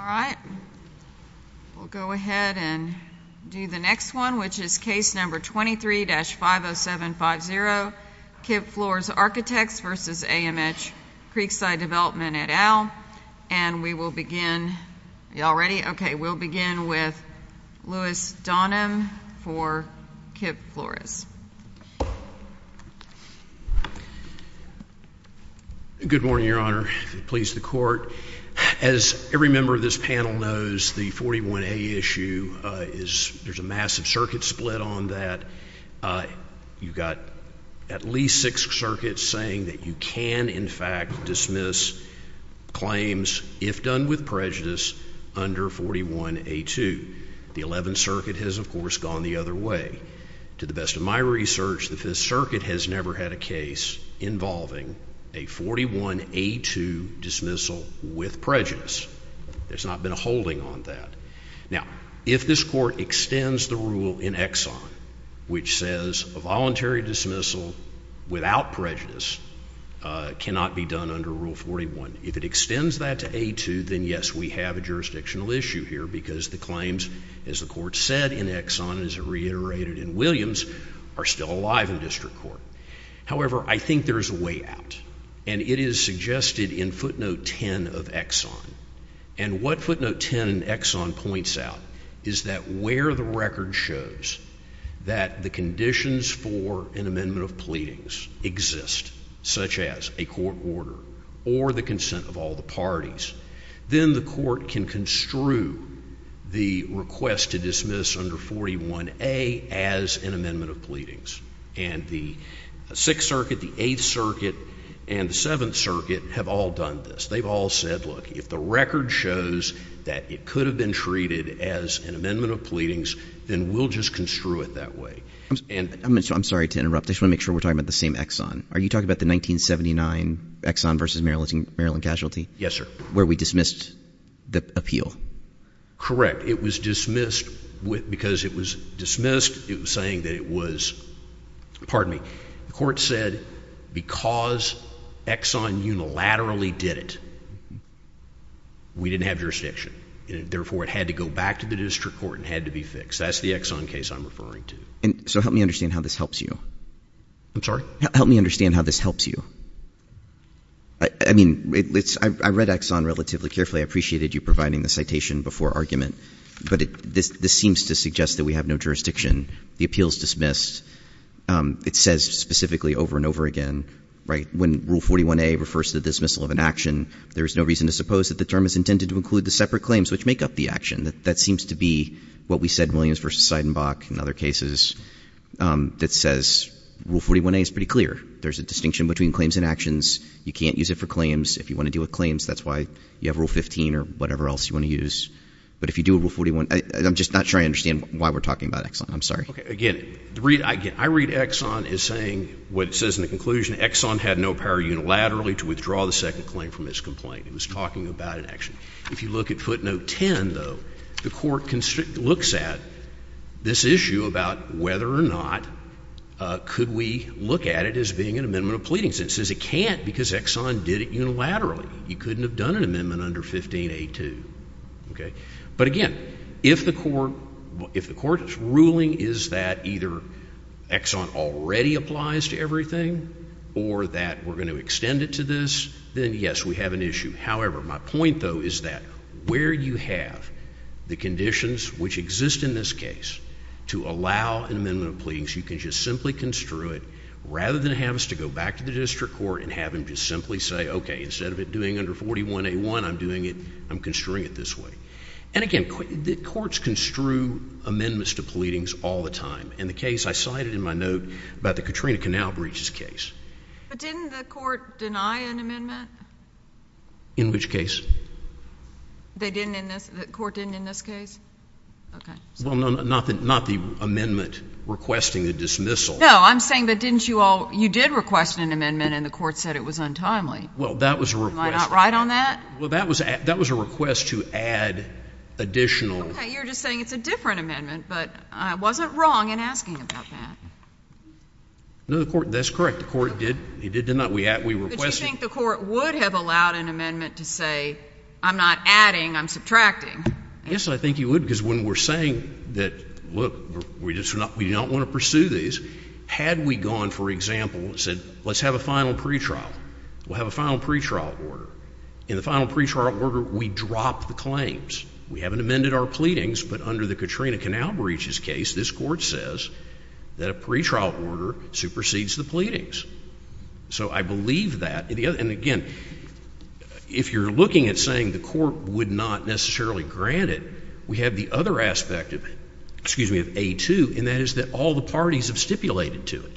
All right, we'll go ahead and do the next one. Which is case number 23-50750, Kipp Flores Architects v. AMH Creekside Development at And we will begin, y'all ready? Okay, we'll begin with Louis Donham for Kipp Flores. Good morning, Your Honor. Please, the court. As every member of this panel knows, the 41A issue, there's a massive circuit split on that. You've got at least six circuits saying that you can, in fact, dismiss claims, if done with prejudice, under 41A2. The 11th Circuit has, of course, gone the other way. To the best of my research, the Fifth Circuit has never had a case involving a 41A2 dismissal with prejudice. There's not been a holding on that. Now, if this court extends the rule in Exxon, which says a voluntary dismissal without prejudice cannot be done under Rule 41, if it extends that to A2, then yes, we have a jurisdictional issue here, because the claims, as the court said in Exxon, as it reiterated in Williams, are still alive in district court. However, I think there's a way out, and it is suggested in footnote 10 of Exxon. And what footnote 10 in Exxon points out is that where the record shows that the conditions for an amendment of pleadings exist, such as a court order or the consent of all the parties, then the court can construe the request to dismiss under 41A as an amendment of pleadings. And the Sixth Circuit, the Eighth Circuit, and the Seventh Circuit have all done this. They've all said, look, if the record shows that it could have been treated as an amendment of pleadings, then we'll just construe it that way. And — I'm sorry to interrupt. I just want to make sure we're talking about the same Exxon. Are you talking about the 1979 Exxon v. Maryland Casualty? Yes, sir. Where we dismissed the appeal? It was dismissed because it was dismissed. It was saying that it was — pardon me — the court said, because Exxon unilaterally did it, we didn't have jurisdiction, and therefore it had to go back to the district court and had to be fixed. That's the Exxon case I'm referring to. And so help me understand how this helps you. I'm sorry? Help me understand how this helps you. I mean, it's — I read Exxon relatively carefully. I appreciated you providing the citation before argument. But this seems to suggest that we have no jurisdiction. The appeal is dismissed. It says specifically over and over again, right, when Rule 41a refers to the dismissal of an action, there is no reason to suppose that the term is intended to include the separate claims which make up the action. That seems to be what we said in Williams v. Seidenbach and other cases that says Rule 41a is pretty clear. There's a distinction between claims and actions. You can't use it for claims. If you want to deal with claims, that's why you have Rule 15 or whatever else you want to use. But if you do Rule 41 — I'm just not sure I understand why we're talking about I'm sorry. Again, I read Exxon as saying what it says in the conclusion, Exxon had no power unilaterally to withdraw the second claim from its complaint. It was talking about an action. If you look at footnote 10, though, the court looks at this issue about whether or not could we look at it as being an amendment of pleadings. It says it can't because Exxon did it unilaterally. You couldn't have done an amendment under 15a2. But again, if the court's ruling is that either Exxon already applies to everything or that we're going to extend it to this, then yes, we have an issue. However, my point, though, is that where you have the conditions which exist in this case to allow an amendment of pleadings, you can just simply construe it rather than have us to go back to the district court and have them just simply say, okay, instead of it doing under 41a1, I'm doing it — I'm construing it this way. And again, the courts construe amendments to pleadings all the time. In the case I cited in my note about the Katrina Canal breaches case — But didn't the court deny an amendment? In which case? They didn't in this — the court didn't in this case? Okay. Well, no, not the amendment requesting a dismissal. No, I'm saying that didn't you all — you did request an amendment and the court said it was untimely. Well, that was a request. Am I not right on that? Well, that was a request to add additional — Okay, you're just saying it's a different amendment, but I wasn't wrong in asking about that. No, the court — that's correct. The court did. It did, didn't it? We requested — But you think the court would have allowed an amendment to say, I'm not adding, I'm subtracting? Yes, I think you would, because when we're saying that, look, we just — we do not want to pursue these, had we gone, for example, and said, let's have a final pretrial, we'll have a final pretrial order. In the final pretrial order, we drop the claims. We haven't amended our pleadings, but under the Katrina Canal breaches case, this Court says that a pretrial order supersedes the pleadings. So I believe that. And again, if you're looking at saying the court would not necessarily grant it, we have the other aspect of — excuse me — of A2, and that is that all the parties have stipulated to it.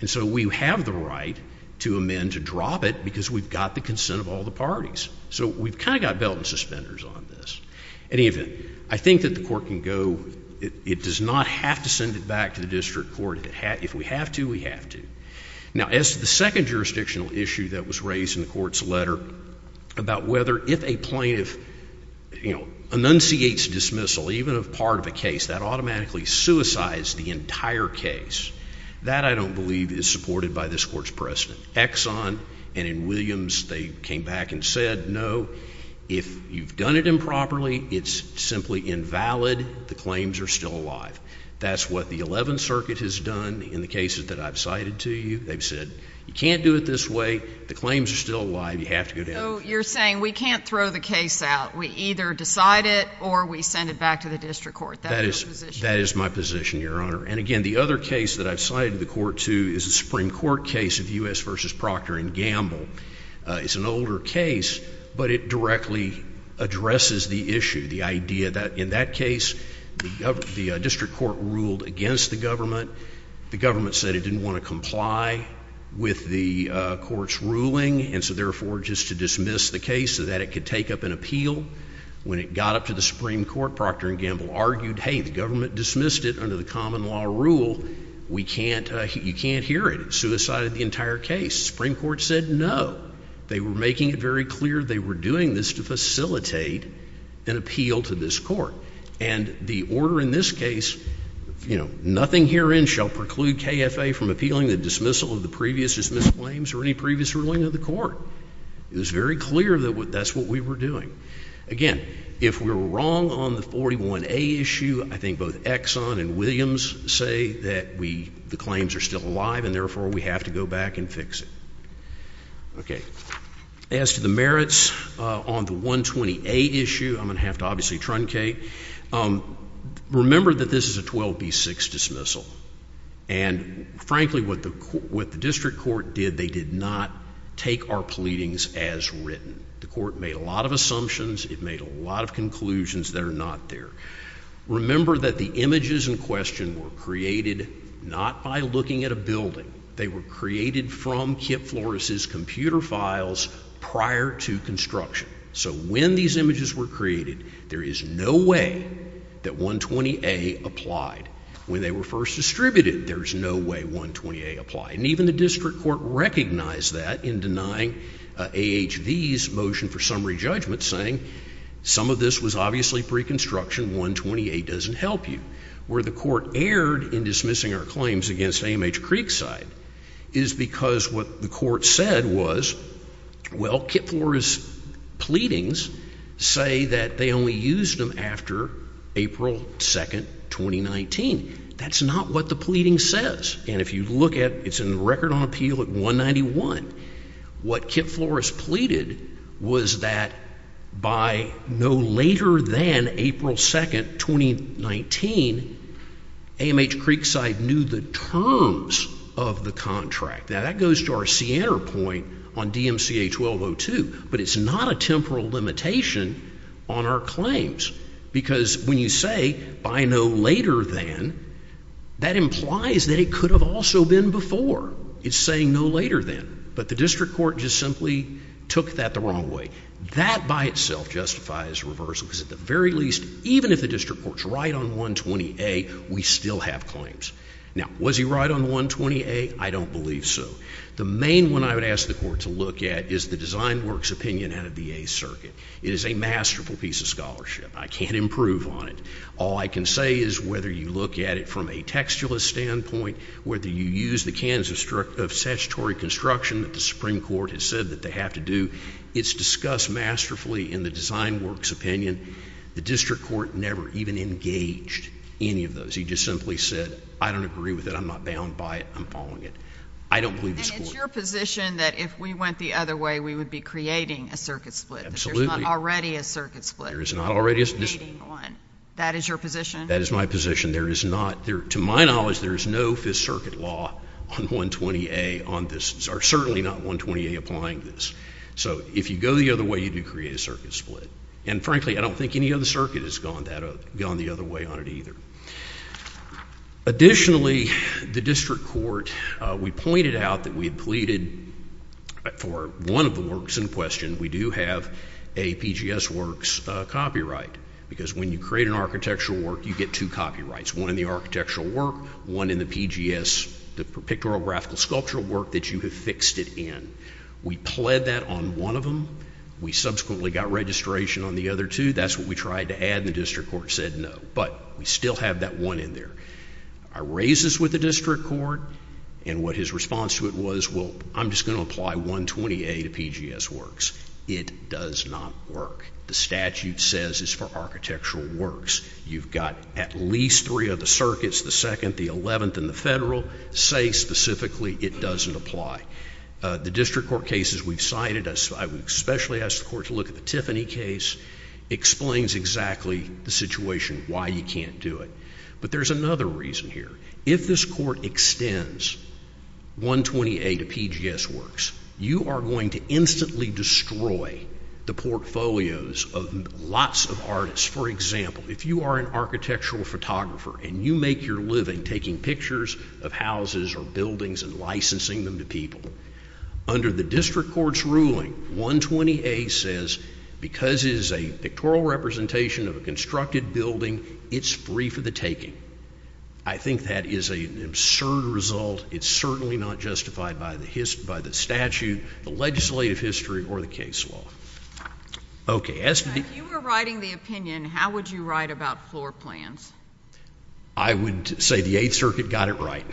And so we have the right to amend, to drop it, because we've got the consent of all the parties. So we've kind of got belt and suspenders on this. In any event, I think that the court can go — it does not have to send it back to the district court. If we have to, we have to. Now, as to the second jurisdictional issue that was raised in the court's letter about whether if a plaintiff, you know, enunciates dismissal, even of part of a case, that automatically suicides the entire case, that I don't believe is supported by this court's precedent. Exxon and in Williams, they came back and said, no, if you've done it improperly, it's simply invalid. The claims are still alive. That's what the Eleventh Circuit has done in the cases that I've cited to you. They've said, you can't do it this way. The claims are still alive. You have to go down — So you're saying we can't throw the case out. We either decide it or we send it back to the district court. That is your position? That is my position, Your Honor. And again, the other case that I've cited to the court, too, is the Supreme Court case of U.S. v. Procter & Gamble. It's an older case, but it directly addresses the issue, the idea that in that case, the district court ruled against the government. The government said it didn't want to comply with the court's ruling, and so therefore just to dismiss the case so that it could take up an appeal. When it got up to the Supreme Court, Procter & Gamble argued, hey, the government dismissed it under the common law rule. We can't — you can't hear it. It suicided the entire case. The Supreme Court said no. They were making it very clear they were doing this to facilitate an appeal to this court. And the order in this case, you know, nothing herein shall preclude KFA from appealing the dismissal of the previous dismissed claims or any previous ruling of the court. It was very clear that that's what we were doing. Again, if we're wrong on the 41A issue, I think both Exxon and Williams say that we — the claims are still alive, and therefore we have to go back and fix it. Okay. As to the merits on the 120A issue, I'm going to have to obviously truncate. Remember that this is a 12B6 dismissal. And frankly, what the — what the district court did, they did not take our pleadings as written. The court made a lot of assumptions. It made a lot of conclusions that are not there. Remember that the images in question were created not by looking at a building. They were created from Kip Flores' computer files prior to construction. So when these images were created, there is no way that 120A applied. When they were first distributed, there's no way 120A applied. And even the district court recognized that in denying AHV's motion for summary judgment, saying some of this was obviously pre-construction, 120A doesn't help you. Where the court erred in dismissing our claims against AMH Creekside is because what the court said was, well, Kip Flores' pleadings say that they only used them after April 2nd, 2019. That's not what the pleading says. And if you look at — it's in record on appeal at 191. What Kip Flores pleaded was that by no later than April 2nd, 2019, AMH Creekside knew the terms of the contract. Now, that goes to our Sienner point on DMCA 1202. But it's not a temporal limitation on our claims. Because when you say by no later than, that implies that it could have also been before. It's saying no later than. But the district court just simply took that the wrong way. That by itself justifies reversal. Because at the very least, even if the district court's right on 120A, we still have claims. Now, was he right on 120A? I don't believe so. The main one I would ask the court to look at is the Design Works opinion out of the Eighth Circuit. It is a masterful piece of scholarship. I can't improve on it. All I can say is whether you look at it from a textualist standpoint, whether you use the demands of statutory construction that the Supreme Court has said that they have to do, it's discussed masterfully in the Design Works opinion. The district court never even engaged any of those. He just simply said, I don't agree with it. I'm not bound by it. I'm following it. I don't believe the score. And it's your position that if we went the other way, we would be creating a circuit split. Absolutely. There's not already a circuit split. There is not already a circuit split. That is your position? That is my position. There is not, to my knowledge, there is no Fifth Circuit law on 120A on this, or certainly not 120A applying this. So if you go the other way, you do create a circuit split. And frankly, I don't think any other circuit has gone the other way on it either. Additionally, the district court, we pointed out that we had pleaded for one of the works in question. We do have a PGS Works copyright because when you create an architectural work, you get two copyrights. One in the architectural work, one in the PGS, the pictorial, graphical, sculptural work that you have fixed it in. We pled that on one of them. We subsequently got registration on the other two. That's what we tried to add, and the district court said no. But we still have that one in there. I raised this with the district court, and what his response to it was, well, I'm just going to apply 120A to PGS Works. It does not work. The statute says it's for architectural works. You've got at least three of the circuits, the second, the eleventh, and the federal say specifically it doesn't apply. The district court cases we've cited, I would especially ask the court to look at the Tiffany case. It explains exactly the situation, why you can't do it. But there's another reason here. If this court extends 128A to PGS Works, you are going to instantly destroy the portfolios of lots of artists. For example, if you are an architectural photographer and you make your living taking pictures of houses or buildings and licensing them to people, under the district court's ruling, 120A says, because it is a pictorial representation of a constructed building, it's free for the taking. I think that is an absurd result. It's certainly not justified by the statute, the legislative history, or the case law. Okay. If you were writing the opinion, how would you write about floor plans? I would say the Eighth Circuit got it right.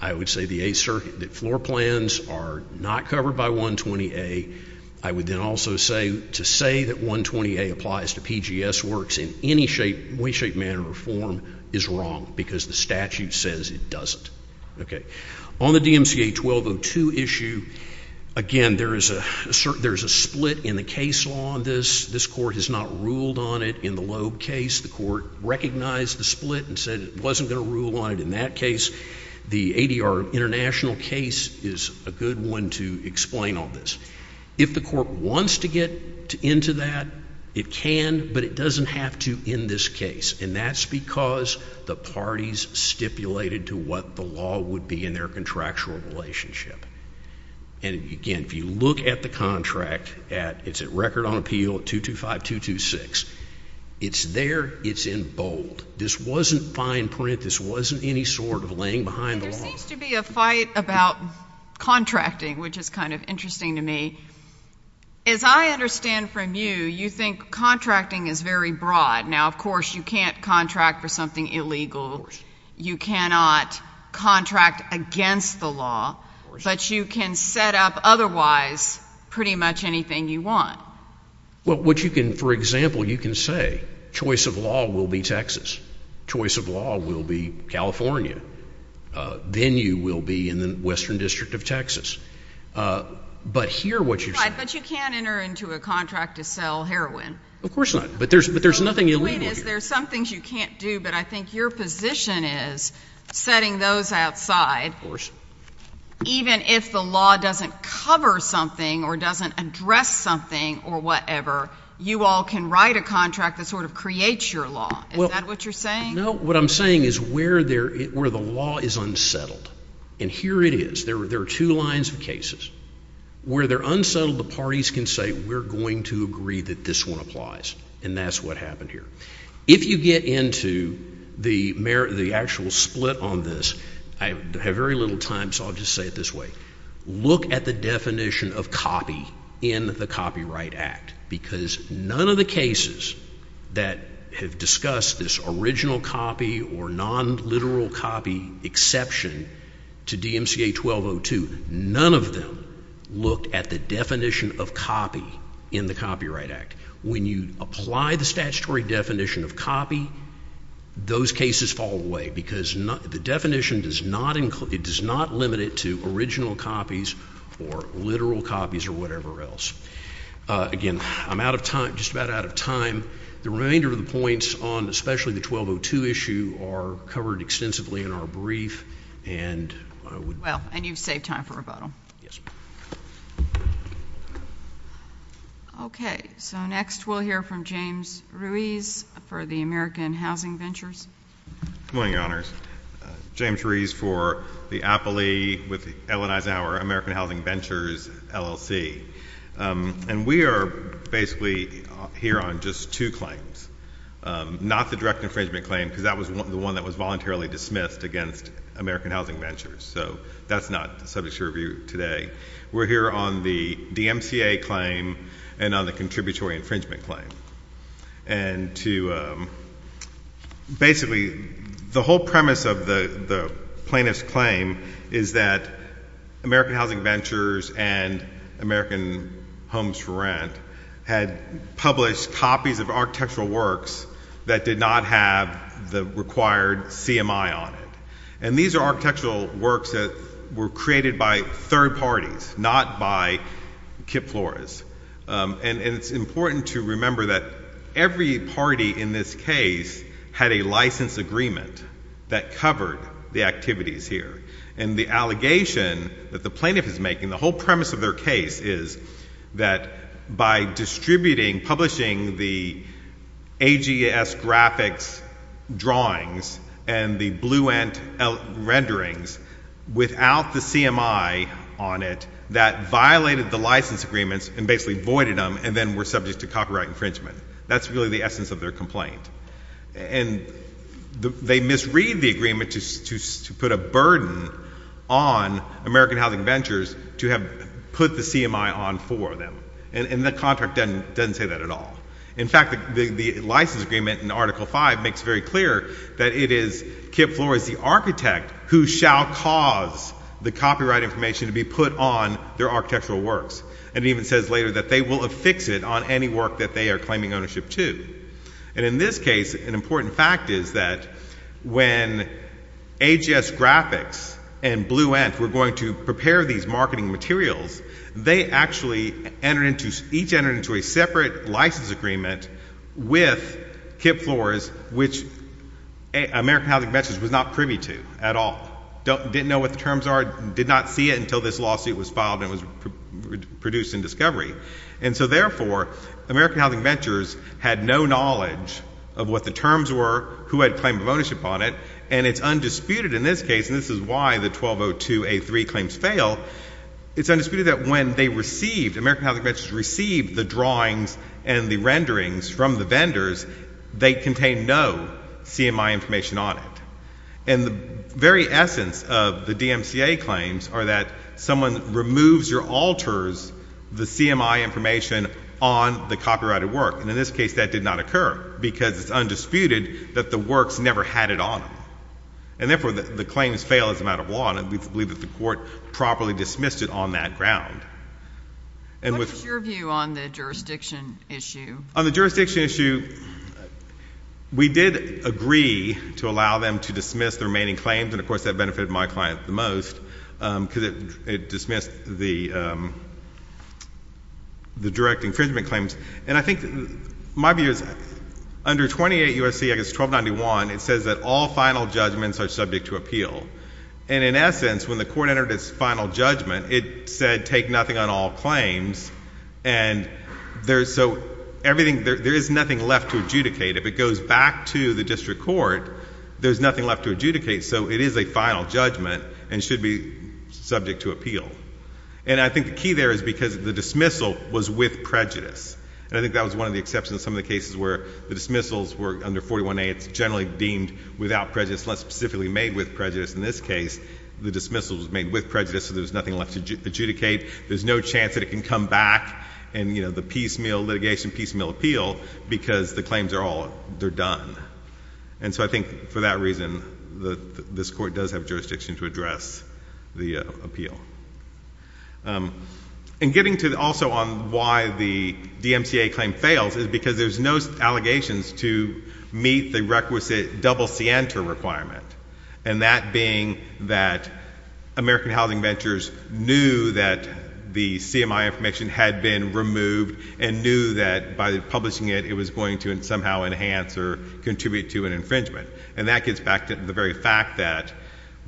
I would say the Eighth Circuit, that floor plans are not covered by 120A. I would then also say, to say that 120A applies to PGS Works in any way, shape, manner, or form is wrong, because the statute says it doesn't. Okay. On the DMCA 1202 issue, again, there is a split in the case law on this. This court has not ruled on it in the Loeb case. The court recognized the split and said it wasn't going to rule on it in that case. The ADR international case is a good one to explain all this. If the court wants to get into that, it can, but it doesn't have to in this case, and that's because the parties stipulated to what the law would be in their contractual relationship. And, again, if you look at the contract, it's at record on appeal at 225-226. It's there. It's in bold. This wasn't fine print. This wasn't any sort of laying behind the law. There seems to be a fight about contracting, which is kind of interesting to me. As I understand from you, you think contracting is very broad. Now, of course, you can't contract for something illegal. You cannot contract against the law, but you can set up otherwise pretty much anything you want. Well, what you can, for example, you can say choice of law will be Texas, choice of law will be California, then you will be in the Western District of Texas. But here what you're saying Right, but you can't enter into a contract to sell heroin. Of course not. But there's nothing illegal here. The point is there are some things you can't do, but I think your position is setting those outside. Of course. Even if the law doesn't cover something or doesn't address something or whatever, you all can write a contract that sort of creates your law. Is that what you're saying? No. What I'm saying is where the law is unsettled, and here it is, there are two lines of cases. Where they're unsettled, the parties can say we're going to agree that this one applies, and that's what happened here. If you get into the actual split on this, I have very little time, so I'll just say it this way. Look at the definition of copy in the Copyright Act, because none of the cases that have discussed this original copy or non-literal copy exception to DMCA 1202, none of them looked at the definition of copy in the Copyright Act. When you apply the statutory definition of copy, those cases fall away, because the definition does not include, it does not limit it to original copies or literal copies or whatever else. Again, I'm out of time, just about out of time. The remainder of the points on especially the 1202 issue are covered extensively in our brief, and I would— Well, and you've saved time for rebuttal. Yes. Okay. So next, we'll hear from James Ruiz for the American Housing Ventures. Good morning, Your Honors. James Ruiz for the Appley with the Ellen Eisenhower American Housing Ventures LLC. And we are basically here on just two claims, not the direct infringement claim, because that was the one that was voluntarily dismissed against American Housing Ventures. So that's not the subject of your review today. We're here on the DMCA claim and on the contributory infringement claim. And to—basically, the whole premise of the plaintiff's claim is that American Housing Ventures and American Homes for Rent had published copies of architectural works that did not have the required CMI on it. And these are architectural works that were created by third parties, not by Kip Flores. And it's important to remember that every party in this case had a license agreement that covered the activities here. And the allegation that the plaintiff is making, the whole premise of their case is that by distributing, publishing the AGS graphics drawings and the Bluent renderings without the CMI on it, that violated the license agreements and basically voided them and then were subject to copyright infringement. That's really the essence of their complaint. And they misread the agreement to put a burden on American Housing Ventures to have put the CMI on for them. And the contract doesn't say that at all. In fact, the license agreement in Article V makes very clear that it is Kip Flores, the architect, who shall cause the copyright information to be put on their architectural works. And it even says later that they will affix it on any work that they are claiming ownership to. And in this case, an important fact is that when AGS graphics and Bluent were going to prepare these marketing materials, they actually entered into, each entered into a separate license agreement with Kip Flores, which American Housing Ventures was not privy to at all. Didn't know what the terms are, did not see it until this lawsuit was filed and was produced in discovery. And so therefore, American Housing Ventures had no knowledge of what the terms were, who had claim of ownership on it, and it's undisputed in this case, and this is why the 1202A3 claims fail, it's undisputed that when they received, American Housing Ventures received the drawings and the renderings from the vendors, they contained no CMI information on it. And the very essence of the DMCA claims are that someone removes or alters the CMI information on the copyrighted work, and in this case, that did not occur, because it's undisputed that the works never had it on them. And therefore, the claims fail as a matter of law, and I believe that the court properly dismissed it on that ground. And with... What is your view on the jurisdiction issue? On the jurisdiction issue, we did agree to allow them to dismiss the remaining claims, and of course, that benefited my client the most, because it dismissed the direct infringement claims. And I think my view is under 28 U.S.C.A. 1291, it says that all final judgments are subject to appeal. And in essence, when the court entered its final judgment, it said take nothing on all claims, and so there is nothing left to adjudicate. If it goes back to the district court, there's nothing left to adjudicate. So it is a final judgment and should be subject to appeal. And I think the key there is because the dismissal was with prejudice, and I think that was one of the exceptions in some of the cases where the dismissals were under 41A. It's generally deemed without prejudice, less specifically made with prejudice. In this case, the dismissal was made with prejudice, so there's nothing left to adjudicate. There's no chance that it can come back in, you know, the piecemeal litigation, piecemeal appeal, because the claims are all, they're done. And so I think for that reason, this court does have jurisdiction to address the appeal. And getting to also on why the DMCA claim fails is because there's no allegations to meet the requisite double scienter requirement, and that being that American Housing Ventures knew that the CMI information had been removed and knew that by publishing it, it was going to somehow enhance or contribute to an infringement. And that gets back to the very fact that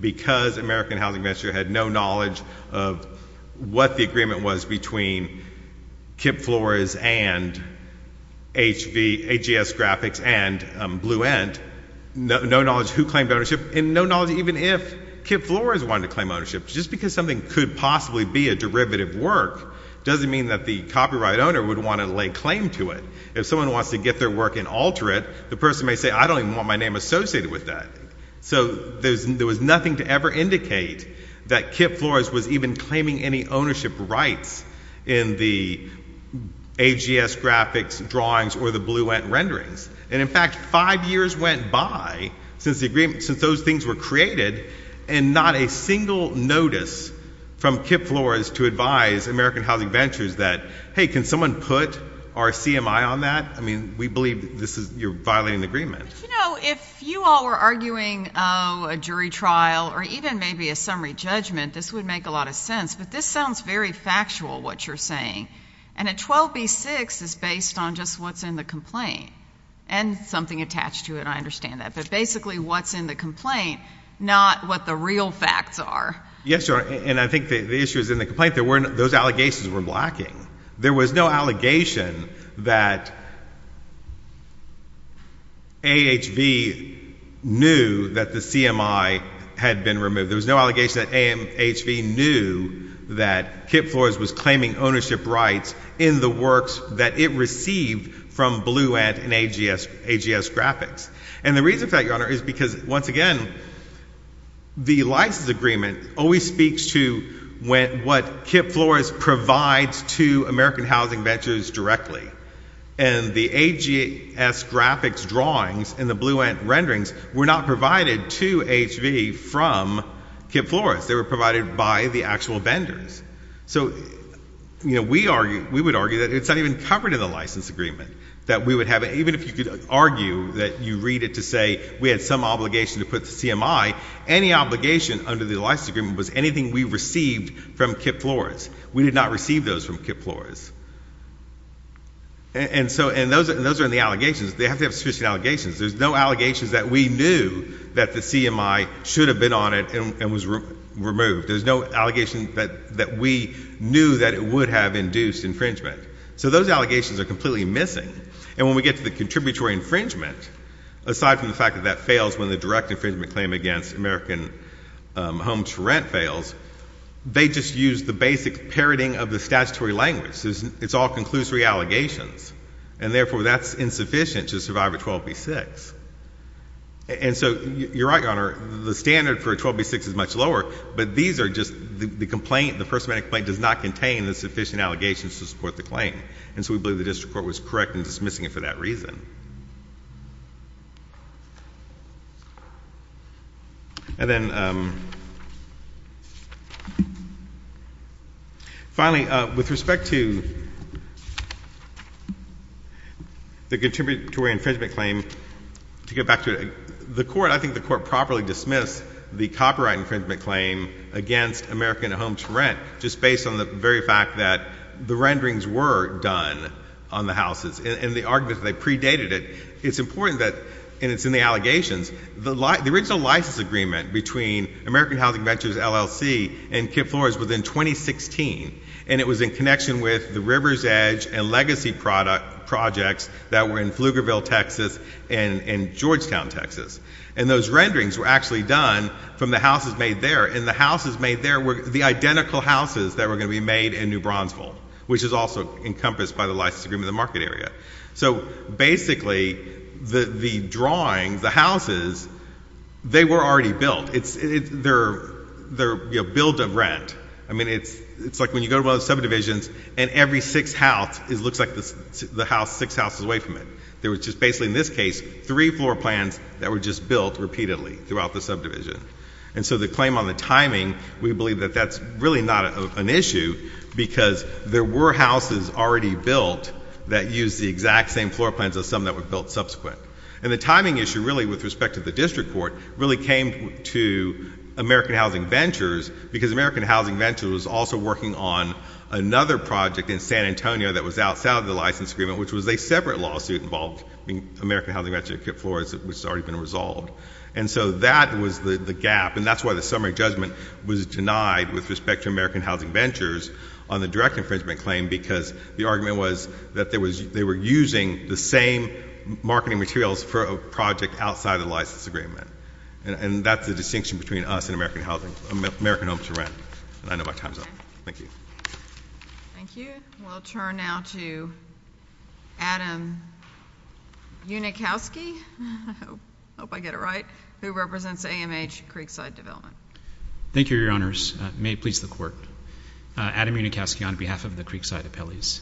because American Housing Ventures had no knowledge of what the agreement was between KIPP Floors and HV, HES Graphics and Blue End, no knowledge who claimed ownership, and no knowledge even if KIPP Floors wanted to claim ownership just because something could possibly be a derivative work doesn't mean that the copyright owner would want to lay claim to it. If someone wants to get their work and alter it, the person may say, I don't even want my name associated with that. So there was nothing to ever indicate that KIPP Floors was even claiming any ownership rights in the HGS Graphics drawings or the Blue End renderings. And in fact, five years went by since those things were created, and not a single notice from KIPP Floors to advise American Housing Ventures that, hey, can someone put our CMI on that? I mean, we believe this is, you're violating the agreement. But you know, if you all were arguing a jury trial or even maybe a summary judgment, this would make a lot of sense. But this sounds very factual, what you're saying. And a 12b-6 is based on just what's in the complaint and something attached to it. I understand that. But basically, what's in the complaint, not what the real facts are. Yes, Your Honor. And I think the issue is in the complaint. Those allegations were lacking. There was no allegation that AHV knew that the CMI had been removed. There was no allegation that AHV knew that KIPP Floors was claiming ownership rights in the works that it received from Blue End and HGS Graphics. And the reason for that, Your Honor, is because, once again, the license agreement always speaks to what KIPP Floors provides to American Housing Ventures directly. And the HGS Graphics drawings and the Blue End renderings were not provided to AHV from KIPP Floors. They were provided by the actual vendors. So you know, we would argue that it's not even covered in the license agreement, that we would have, even if you could argue that you read it to say we had some obligation to put the CMI, any obligation under the license agreement was anything we received from KIPP Floors. We did not receive those from KIPP Floors. And so, and those are in the allegations. They have to have sufficient allegations. There's no allegations that we knew that the CMI should have been on it and was removed. There's no allegation that we knew that it would have induced infringement. So those allegations are completely missing. And when we get to the contributory infringement, aside from the fact that that fails when the direct infringement claim against American Homes for Rent fails, they just use the basic parroting of the statutory language. It's all conclusory allegations. And therefore, that's insufficient to survive a 12B6. And so, you're right, Your Honor, the standard for a 12B6 is much lower, but these are just the complaint, the first amendment complaint does not contain the sufficient allegations to support the claim. And so, we believe the district court was correct in dismissing it for that reason. And then, finally, with respect to the contributory infringement claim, to get back to the court, I think the court properly dismissed the copyright infringement claim against American Homes for Rent just based on the very fact that the renderings were done on the houses and the argument that they predated it. It's important that, and it's in the allegations, the original license agreement between American Housing Ventures LLC and KIPP Floors was in 2016, and it was in connection with the River's Edge and Legacy projects that were in Pflugerville, Texas, and Georgetown, Texas. And those renderings were actually done from the houses made there, and the houses made there were the identical houses that were going to be made in New Bronzeville, which is also encompassed by the license agreement in the market area. So, basically, the drawings, the houses, they were already built, they're built of rent. I mean, it's like when you go to one of the subdivisions, and every six houses looks like the house six houses away from it. There was just basically, in this case, three floor plans that were just built repeatedly throughout the subdivision. And so the claim on the timing, we believe that that's really not an issue because there were houses already built that used the exact same floor plans as some that were built subsequent. And the timing issue, really, with respect to the district court, really came to American Housing Ventures because American Housing Ventures was also working on another project in San Antonio that was outside of the license agreement, which was a separate lawsuit in volving American Housing Ventures, which has already been resolved. And so that was the gap, and that's why the summary judgment was denied with respect to American Housing Ventures on the direct infringement claim because the argument was that they were using the same marketing materials for a project outside of the license agreement. And that's the distinction between us and American Homes for Rent. And I know my time's up. Thank you. Thank you. We'll turn now to Adam Unikowski, I hope I get it right, who represents AMH Creekside Development. Thank you, Your Honors. May it please the Court. Adam Unikowski on behalf of the Creekside Appellees.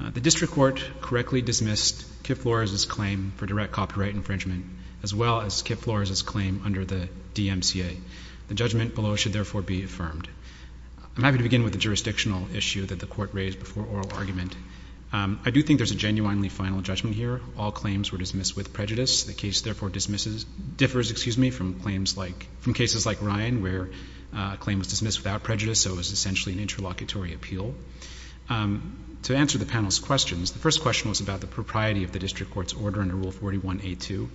The district court correctly dismissed Kip Flores' claim for direct copyright infringement as well as Kip Flores' claim under the DMCA. The judgment below should therefore be affirmed. I'm happy to begin with the jurisdictional issue that the Court raised before oral argument. I do think there's a genuinely final judgment here. All claims were dismissed with prejudice. The case therefore differs from cases like Ryan where a claim was dismissed without prejudice, so it was essentially an interlocutory appeal. To answer the panel's questions, the first question was about the propriety of the district court's order under Rule 41A2.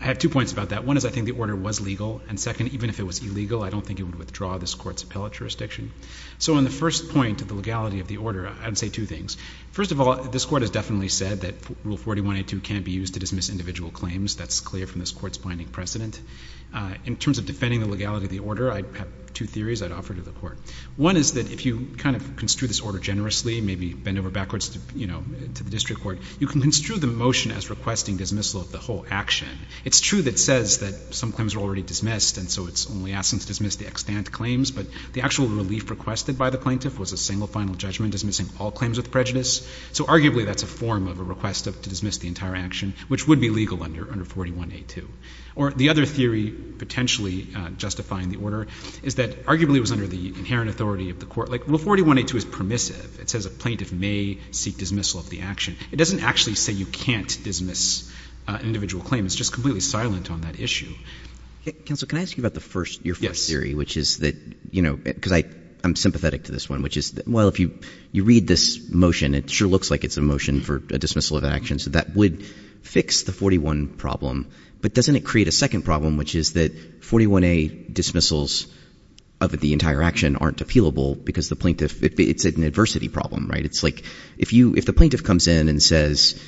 I have two points about that. One is I think the order was legal, and second, even if it was illegal, I don't think it would withdraw this Court's appellate jurisdiction. So on the first point of the legality of the order, I would say two things. First of all, this Court has definitely said that Rule 41A2 can't be used to dismiss individual claims. That's clear from this Court's binding precedent. In terms of defending the legality of the order, I have two theories I'd offer to the One is that if you kind of construe this order generously, maybe bend over backwards, you know, to the district court, you can construe the motion as requesting dismissal of the whole action. It's true that it says that some claims were already dismissed, and so it's only asking to dismiss the extant claims, but the actual relief requested by the plaintiff was a single final judgment dismissing all claims with prejudice. So arguably that's a form of a request to dismiss the entire action, which would be legal under 41A2. Or the other theory potentially justifying the order is that arguably it was under the inherent authority of the Court. Like, Rule 41A2 is permissive. It says a plaintiff may seek dismissal of the action. It doesn't actually say you can't dismiss an individual claim. It's just completely silent on that issue. Counsel, can I ask you about your first theory, which is that, you know, because I'm sympathetic to this one, which is, well, if you read this motion, it sure looks like it's a motion for a dismissal of an action. So that would fix the 41 problem. But doesn't it create a second problem, which is that 41A dismissals of the entire action aren't appealable because the plaintiff, it's an adversity problem, right? It's like, if the plaintiff comes in and says,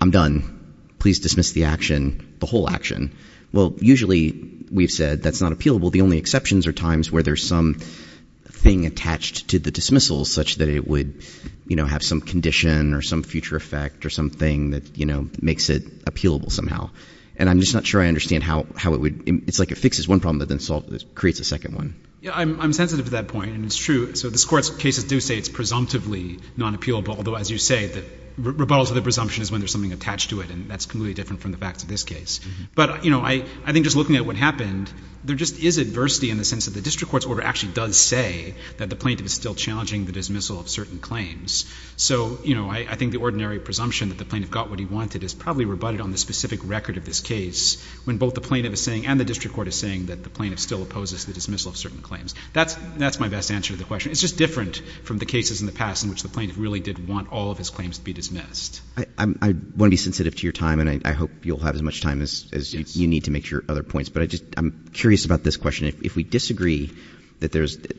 I'm done, please dismiss the action, the whole action. Well, usually we've said that's not appealable. The only exceptions are times where there's some thing attached to the dismissal such that it would, you know, have some condition or some future effect or something that, you know, makes it appealable somehow. And I'm just not sure I understand how it would, it's like it fixes one problem but then creates a second one. Yeah, I'm sensitive to that point, and it's true. So this Court's cases do say it's presumptively non-appealable, although as you say, the rebuttal to the presumption is when there's something attached to it, and that's completely different from the facts of this case. But you know, I think just looking at what happened, there just is adversity in the sense that the district court's order actually does say that the plaintiff is still challenging the dismissal of certain claims. So you know, I think the ordinary presumption that the plaintiff got what he wanted is probably rebutted on the specific record of this case when both the plaintiff is saying and the district court is saying that the plaintiff still opposes the dismissal of certain claims. That's my best answer to the question. It's just different from the cases in the past in which the plaintiff really did want all of his claims to be dismissed. I want to be sensitive to your time, and I hope you'll have as much time as you need to make your other points. But I'm curious about this question. If we disagree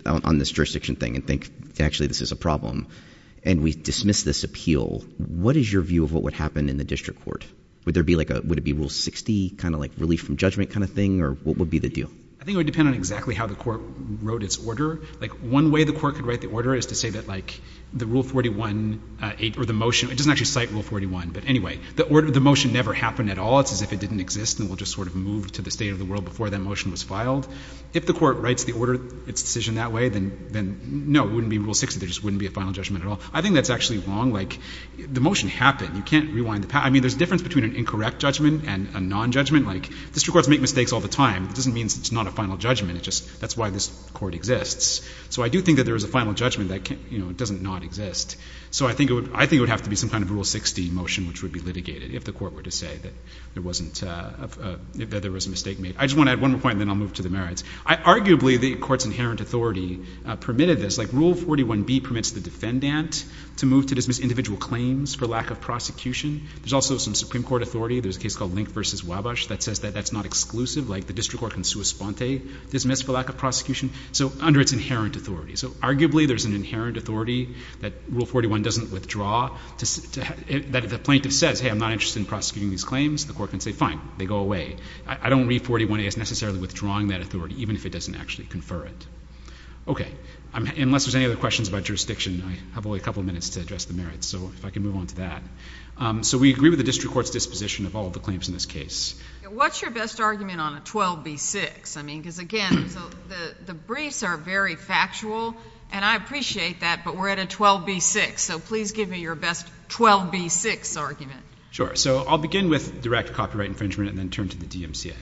on this jurisdiction thing and think, actually, this is a problem, and we dismiss this appeal, what is your view of what would happen in the district court? Would it be Rule 60, kind of like relief from judgment kind of thing? Or what would be the deal? I think it would depend on exactly how the court wrote its order. One way the court could write the order is to say that, like, the Rule 41, or the motion, it doesn't actually cite Rule 41, but anyway, the motion never happened at all. It's as if it didn't exist and it just sort of moved to the state of the world before that motion was filed. If the court writes the order, its decision that way, then no, it wouldn't be Rule 60. There just wouldn't be a final judgment at all. I think that's actually wrong. The motion happened. You can't rewind the past. I mean, there's a difference between an incorrect judgment and a non-judgment. District courts make mistakes all the time. It doesn't mean it's not a final judgment. That's why this court exists. So I do think that there is a final judgment that doesn't not exist. So I think it would have to be some kind of Rule 60 motion which would be litigated if the court were to say that there was a mistake made. I just want to add one more point and then I'll move to the merits. Arguably the court's inherent authority permitted this. Like, Rule 41b permits the defendant to move to dismiss individual claims for lack of prosecution. There's also some Supreme Court authority. There's a case called Link v. Wabash that says that that's not exclusive. Like the district court can sua sponte, dismiss for lack of prosecution, so under its inherent authority. So arguably there's an inherent authority that Rule 41 doesn't withdraw, that if a plaintiff says, hey, I'm not interested in prosecuting these claims, the court can say, fine, they go away. I don't read 41a as necessarily withdrawing that authority, even if it doesn't actually confer it. Okay. Unless there's any other questions about jurisdiction, I have only a couple of minutes to address the merits. So if I can move on to that. So we agree with the district court's disposition of all the claims in this case. What's your best argument on a 12b-6? I mean, because again, so the briefs are very factual, and I appreciate that, but we're at a 12b-6, so please give me your best 12b-6 argument. Sure. So I'll begin with direct copyright infringement and then turn to the DMCA.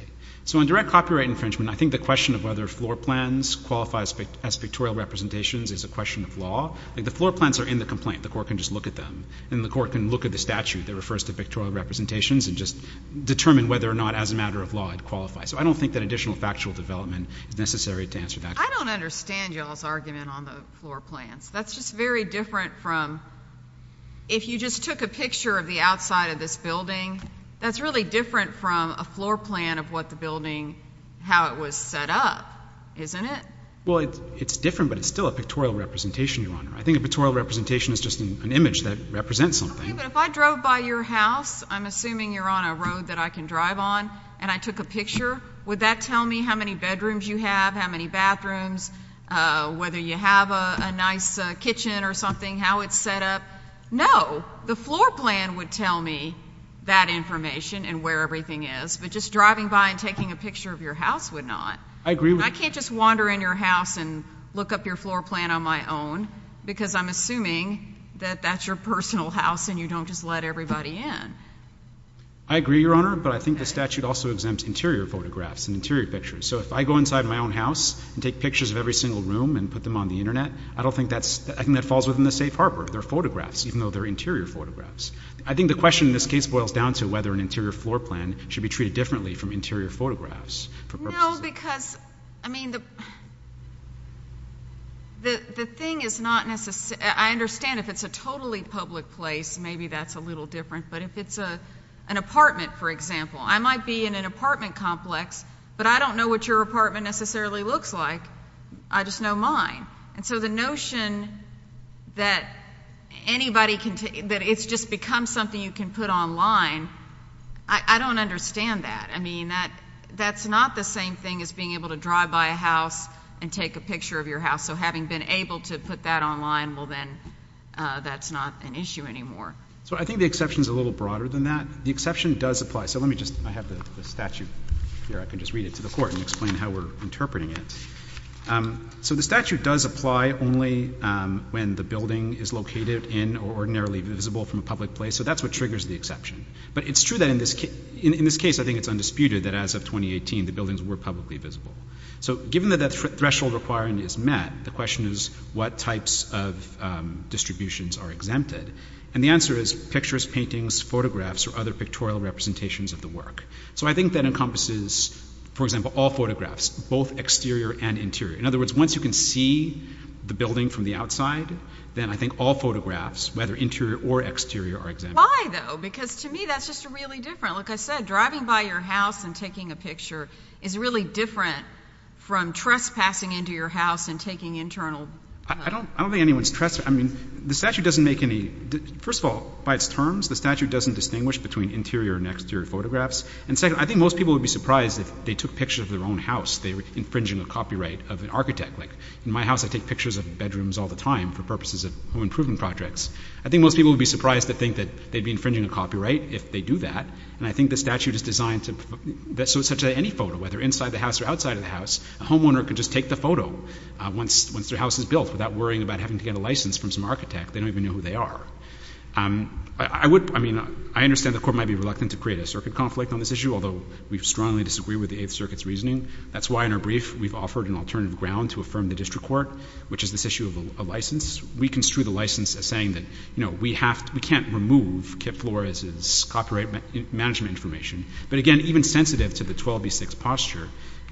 So on direct copyright infringement, I think the question of whether floor plans qualify as pictorial representations is a question of law. Like the floor plans are in the complaint. The court can just look at them, and the court can look at the statute that refers to pictorial representations and just determine whether or not as a matter of law it qualifies. So I don't think that additional factual development is necessary to answer that question. I don't understand y'all's argument on the floor plans. That's just very different from if you just took a picture of the outside of this building, that's really different from a floor plan of what the building, how it was set up, isn't it? Well, it's different, but it's still a pictorial representation, Your Honor. I think a pictorial representation is just an image that represents something. Okay, but if I drove by your house, I'm assuming you're on a road that I can drive on, and I took a picture, would that tell me how many bedrooms you have, how many bathrooms, whether you have a nice kitchen or something, how it's set up? No. The floor plan would tell me that information and where everything is, but just driving by and taking a picture of your house would not. I agree with you. I can't just wander in your house and look up your floor plan on my own, because I'm assuming that that's your personal house and you don't just let everybody in. I agree, Your Honor, but I think the statute also exempts interior photographs and interior pictures. So if I go inside my own house and take pictures of every single room and put them on the Internet, I don't think that's, I think that falls within the safe harbor, they're photographs, even though they're interior photographs. I think the question in this case boils down to whether an interior floor plan should be treated differently from interior photographs for purposes of— No, because, I mean, the thing is not necessarily, I understand if it's a totally public place, maybe that's a little different, but if it's an apartment, for example, I might be in an apartment complex, but I don't know what your apartment necessarily looks like. I just know mine. And so the notion that anybody can, that it's just become something you can put online, I don't understand that. I mean, that's not the same thing as being able to drive by a house and take a picture of your house. So having been able to put that online, well then, that's not an issue anymore. So I think the exception is a little broader than that. The exception does apply. So let me just, I have the statute here, I can just read it to the court and explain how we're interpreting it. So the statute does apply only when the building is located in or ordinarily visible from a public place. So that's what triggers the exception. But it's true that in this case, I think it's undisputed that as of 2018, the buildings were publicly visible. So given that that threshold requirement is met, the question is what types of distributions are exempted? And the answer is pictures, paintings, photographs, or other pictorial representations of the work. So I think that encompasses, for example, all photographs, both exterior and interior. In other words, once you can see the building from the outside, then I think all photographs, whether interior or exterior, are exempt. Why though? Because to me, that's just really different. Like I said, driving by your house and taking a picture is really different from trespassing into your house and taking internal... I don't think anyone's trespassing. I mean, the statute doesn't make any... First of all, by its terms, the statute doesn't distinguish between interior and exterior photographs. And second, I think most people would be surprised if they took pictures of their own house, they were infringing a copyright of an architect. Like in my house, I take pictures of bedrooms all the time for purposes of home improvement projects. I think most people would be surprised to think that they'd be infringing a copyright if they do that. And I think the statute is designed so that any photo, whether inside the house or outside of the house, a homeowner can just take the photo once their house is built without worrying about having to get a license from some architect, they don't even know who they are. I would... I mean, I understand the Court might be reluctant to create a circuit conflict on this issue, although we strongly disagree with the Eighth Circuit's reasoning. That's why in our brief, we've offered an alternative ground to affirm the district court, which is this issue of a license. And we construe the license as saying that, you know, we can't remove Kip Flores' copyright management information. But again, even sensitive to the 12b6 posture,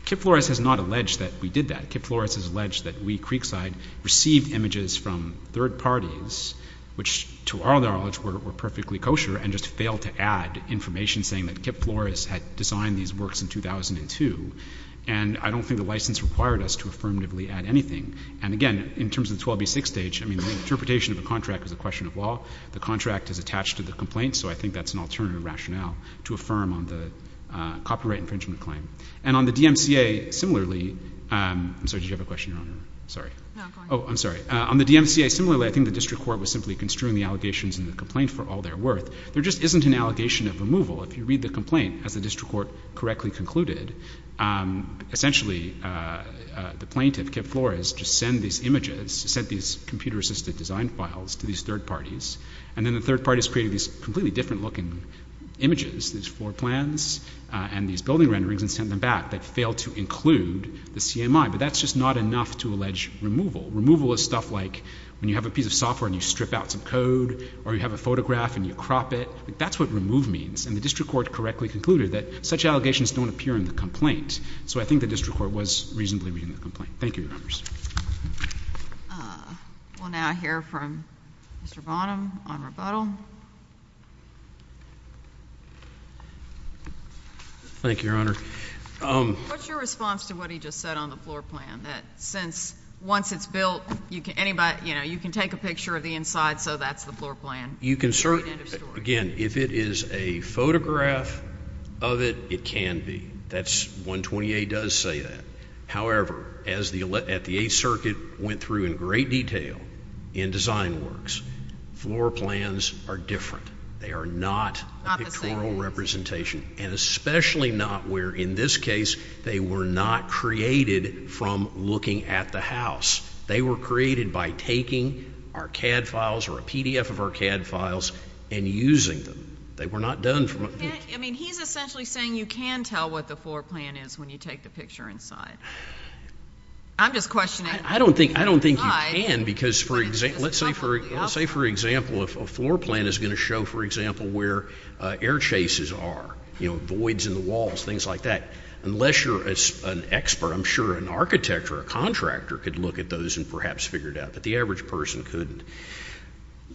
Kip Flores has not alleged that we did that. Kip Flores has alleged that we, Creekside, received images from third parties, which to our knowledge were perfectly kosher and just failed to add information saying that Kip Flores had designed these works in 2002. And I don't think the license required us to affirmatively add anything. And again, in terms of the 12b6 stage, I mean, the interpretation of the contract is a question of law. The contract is attached to the complaint, so I think that's an alternative rationale to affirm on the copyright infringement claim. And on the DMCA, similarly... I'm sorry. Did you have a question, Your Honor? Sorry. No, go ahead. Oh, I'm sorry. On the DMCA, similarly, I think the district court was simply construing the allegations in the complaint for all their worth. There just isn't an allegation of removal. If you read the complaint, as the district court correctly concluded, essentially, the plaintiff, Kip Flores, just sent these images, sent these computer-assisted design files to these third parties, and then the third parties created these completely different looking images, these floor plans and these building renderings and sent them back. They failed to include the CMI, but that's just not enough to allege removal. Removal is stuff like when you have a piece of software and you strip out some code or you have a photograph and you crop it. That's what remove means. And the district court correctly concluded that such allegations don't appear in the complaint. So I think the district court was reasonably reading the complaint. Thank you, Your Honors. We'll now hear from Mr. Bonham on rebuttal. Thank you, Your Honor. What's your response to what he just said on the floor plan, that since once it's built, you can anybody, you know, you can take a picture of the inside, so that's the floor plan. You can certainly, again, if it is a photograph of it, it can be. That's, 128 does say that. However, as the, at the 8th Circuit went through in great detail in design works, floor plans are different. They are not pictorial representation and especially not where, in this case, they were not created from looking at the house. They were created by taking our CAD files or a PDF of our CAD files and using them. They were not done from. I mean, he's essentially saying you can tell what the floor plan is when you take the picture inside. I'm just questioning. I don't think, I don't think you can because for example, let's say for example, if a floor plan is going to show, for example, where air chases are, you know, voids in the walls, things like that, unless you're an expert, I'm sure an architect or a contractor could look at those and perhaps figure it out, but the average person couldn't.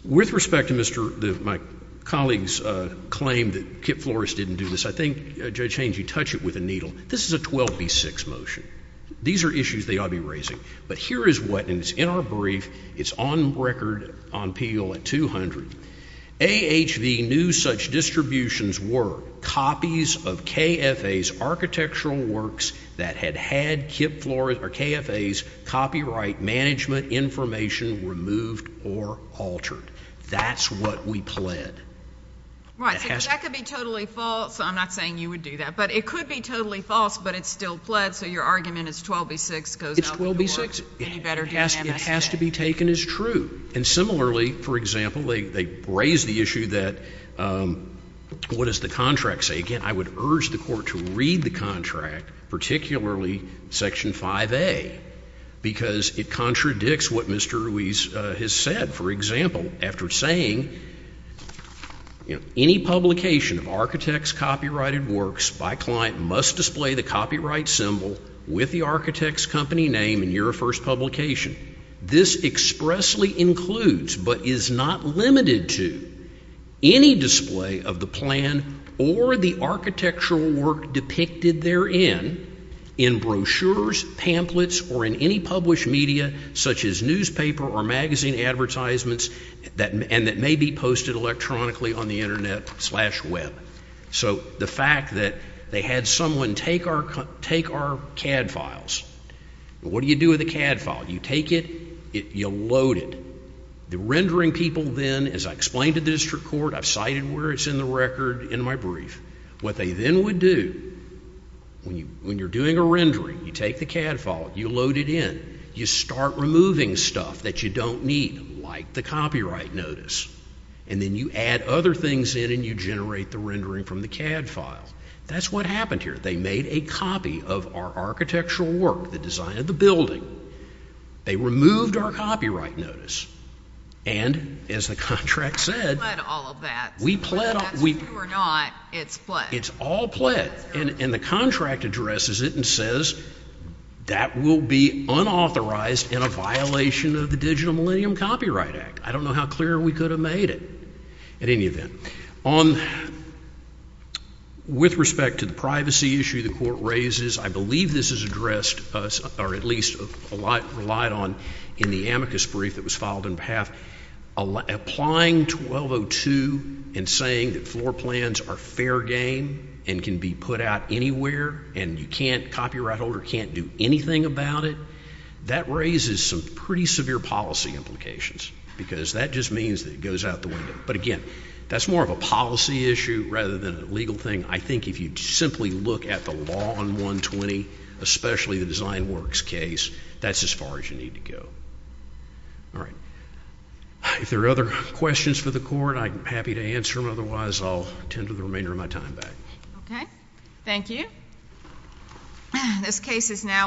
With respect to Mr., my colleague's claim that Kip Flores didn't do this, I think Judge Haynes, you touch it with a needle. This is a 12B6 motion. These are issues they ought to be raising, but here is what, and it's in our brief, it's on record on PEO at 200, AHV knew such distributions were copies of KFA's architectural works that had had Kip Flores or KFA's copyright management information removed or altered. That's what we pled. Right. So that could be totally false, I'm not saying you would do that, but it could be totally false, but it's still pled, so your argument is 12B6 goes out the door, and you better do the MSA. It's 12B6. It has to be taken as true. And similarly, for example, they raise the issue that, what does the contract say? Again, I would urge the Court to read the contract, particularly Section 5A, because it contradicts what Mr. Ruiz has said. For example, after saying, you know, any publication of architect's copyrighted works by client must display the copyright symbol with the architect's company name in your first publication. This expressly includes, but is not limited to, any display of the plan or the architectural work depicted therein in brochures, pamphlets, or in any published media, such as newspaper or magazine advertisements, and that may be posted electronically on the Internet slash web. So the fact that they had someone take our CAD files, what do you do with a CAD file? You take it, you load it. The rendering people then, as I explained to the District Court, I've cited where it's in the record in my brief, what they then would do, when you're doing a rendering, you take the CAD file, you load it in, you start removing stuff that you don't need, like the copyright notice, and then you add other things in and you generate the rendering from the CAD file. That's what happened here. They made a copy of our architectural work, the design of the building, they removed our copyright notice, and as the contract said, we pled, it's all pled, and the contract addresses it and says that will be unauthorized in a violation of the Digital Millennium Copyright Act. I don't know how clear we could have made it at any event. On, with respect to the privacy issue the Court raises, I believe this is addressed, or at least relied on in the amicus brief that was filed on behalf, applying 1202 and saying that floor plans are fair game and can be put out anywhere and you can't, copyright holder can't do anything about it, that raises some pretty severe policy implications because that just means that it goes out the window. But again, that's more of a policy issue rather than a legal thing. I think if you simply look at the law on 120, especially the Design Works case, that's as far as you need to go. All right. If there are other questions for the Court, I'm happy to answer them, otherwise I'll tend to the remainder of my time back. Okay. Thank you. This case is now adjourned.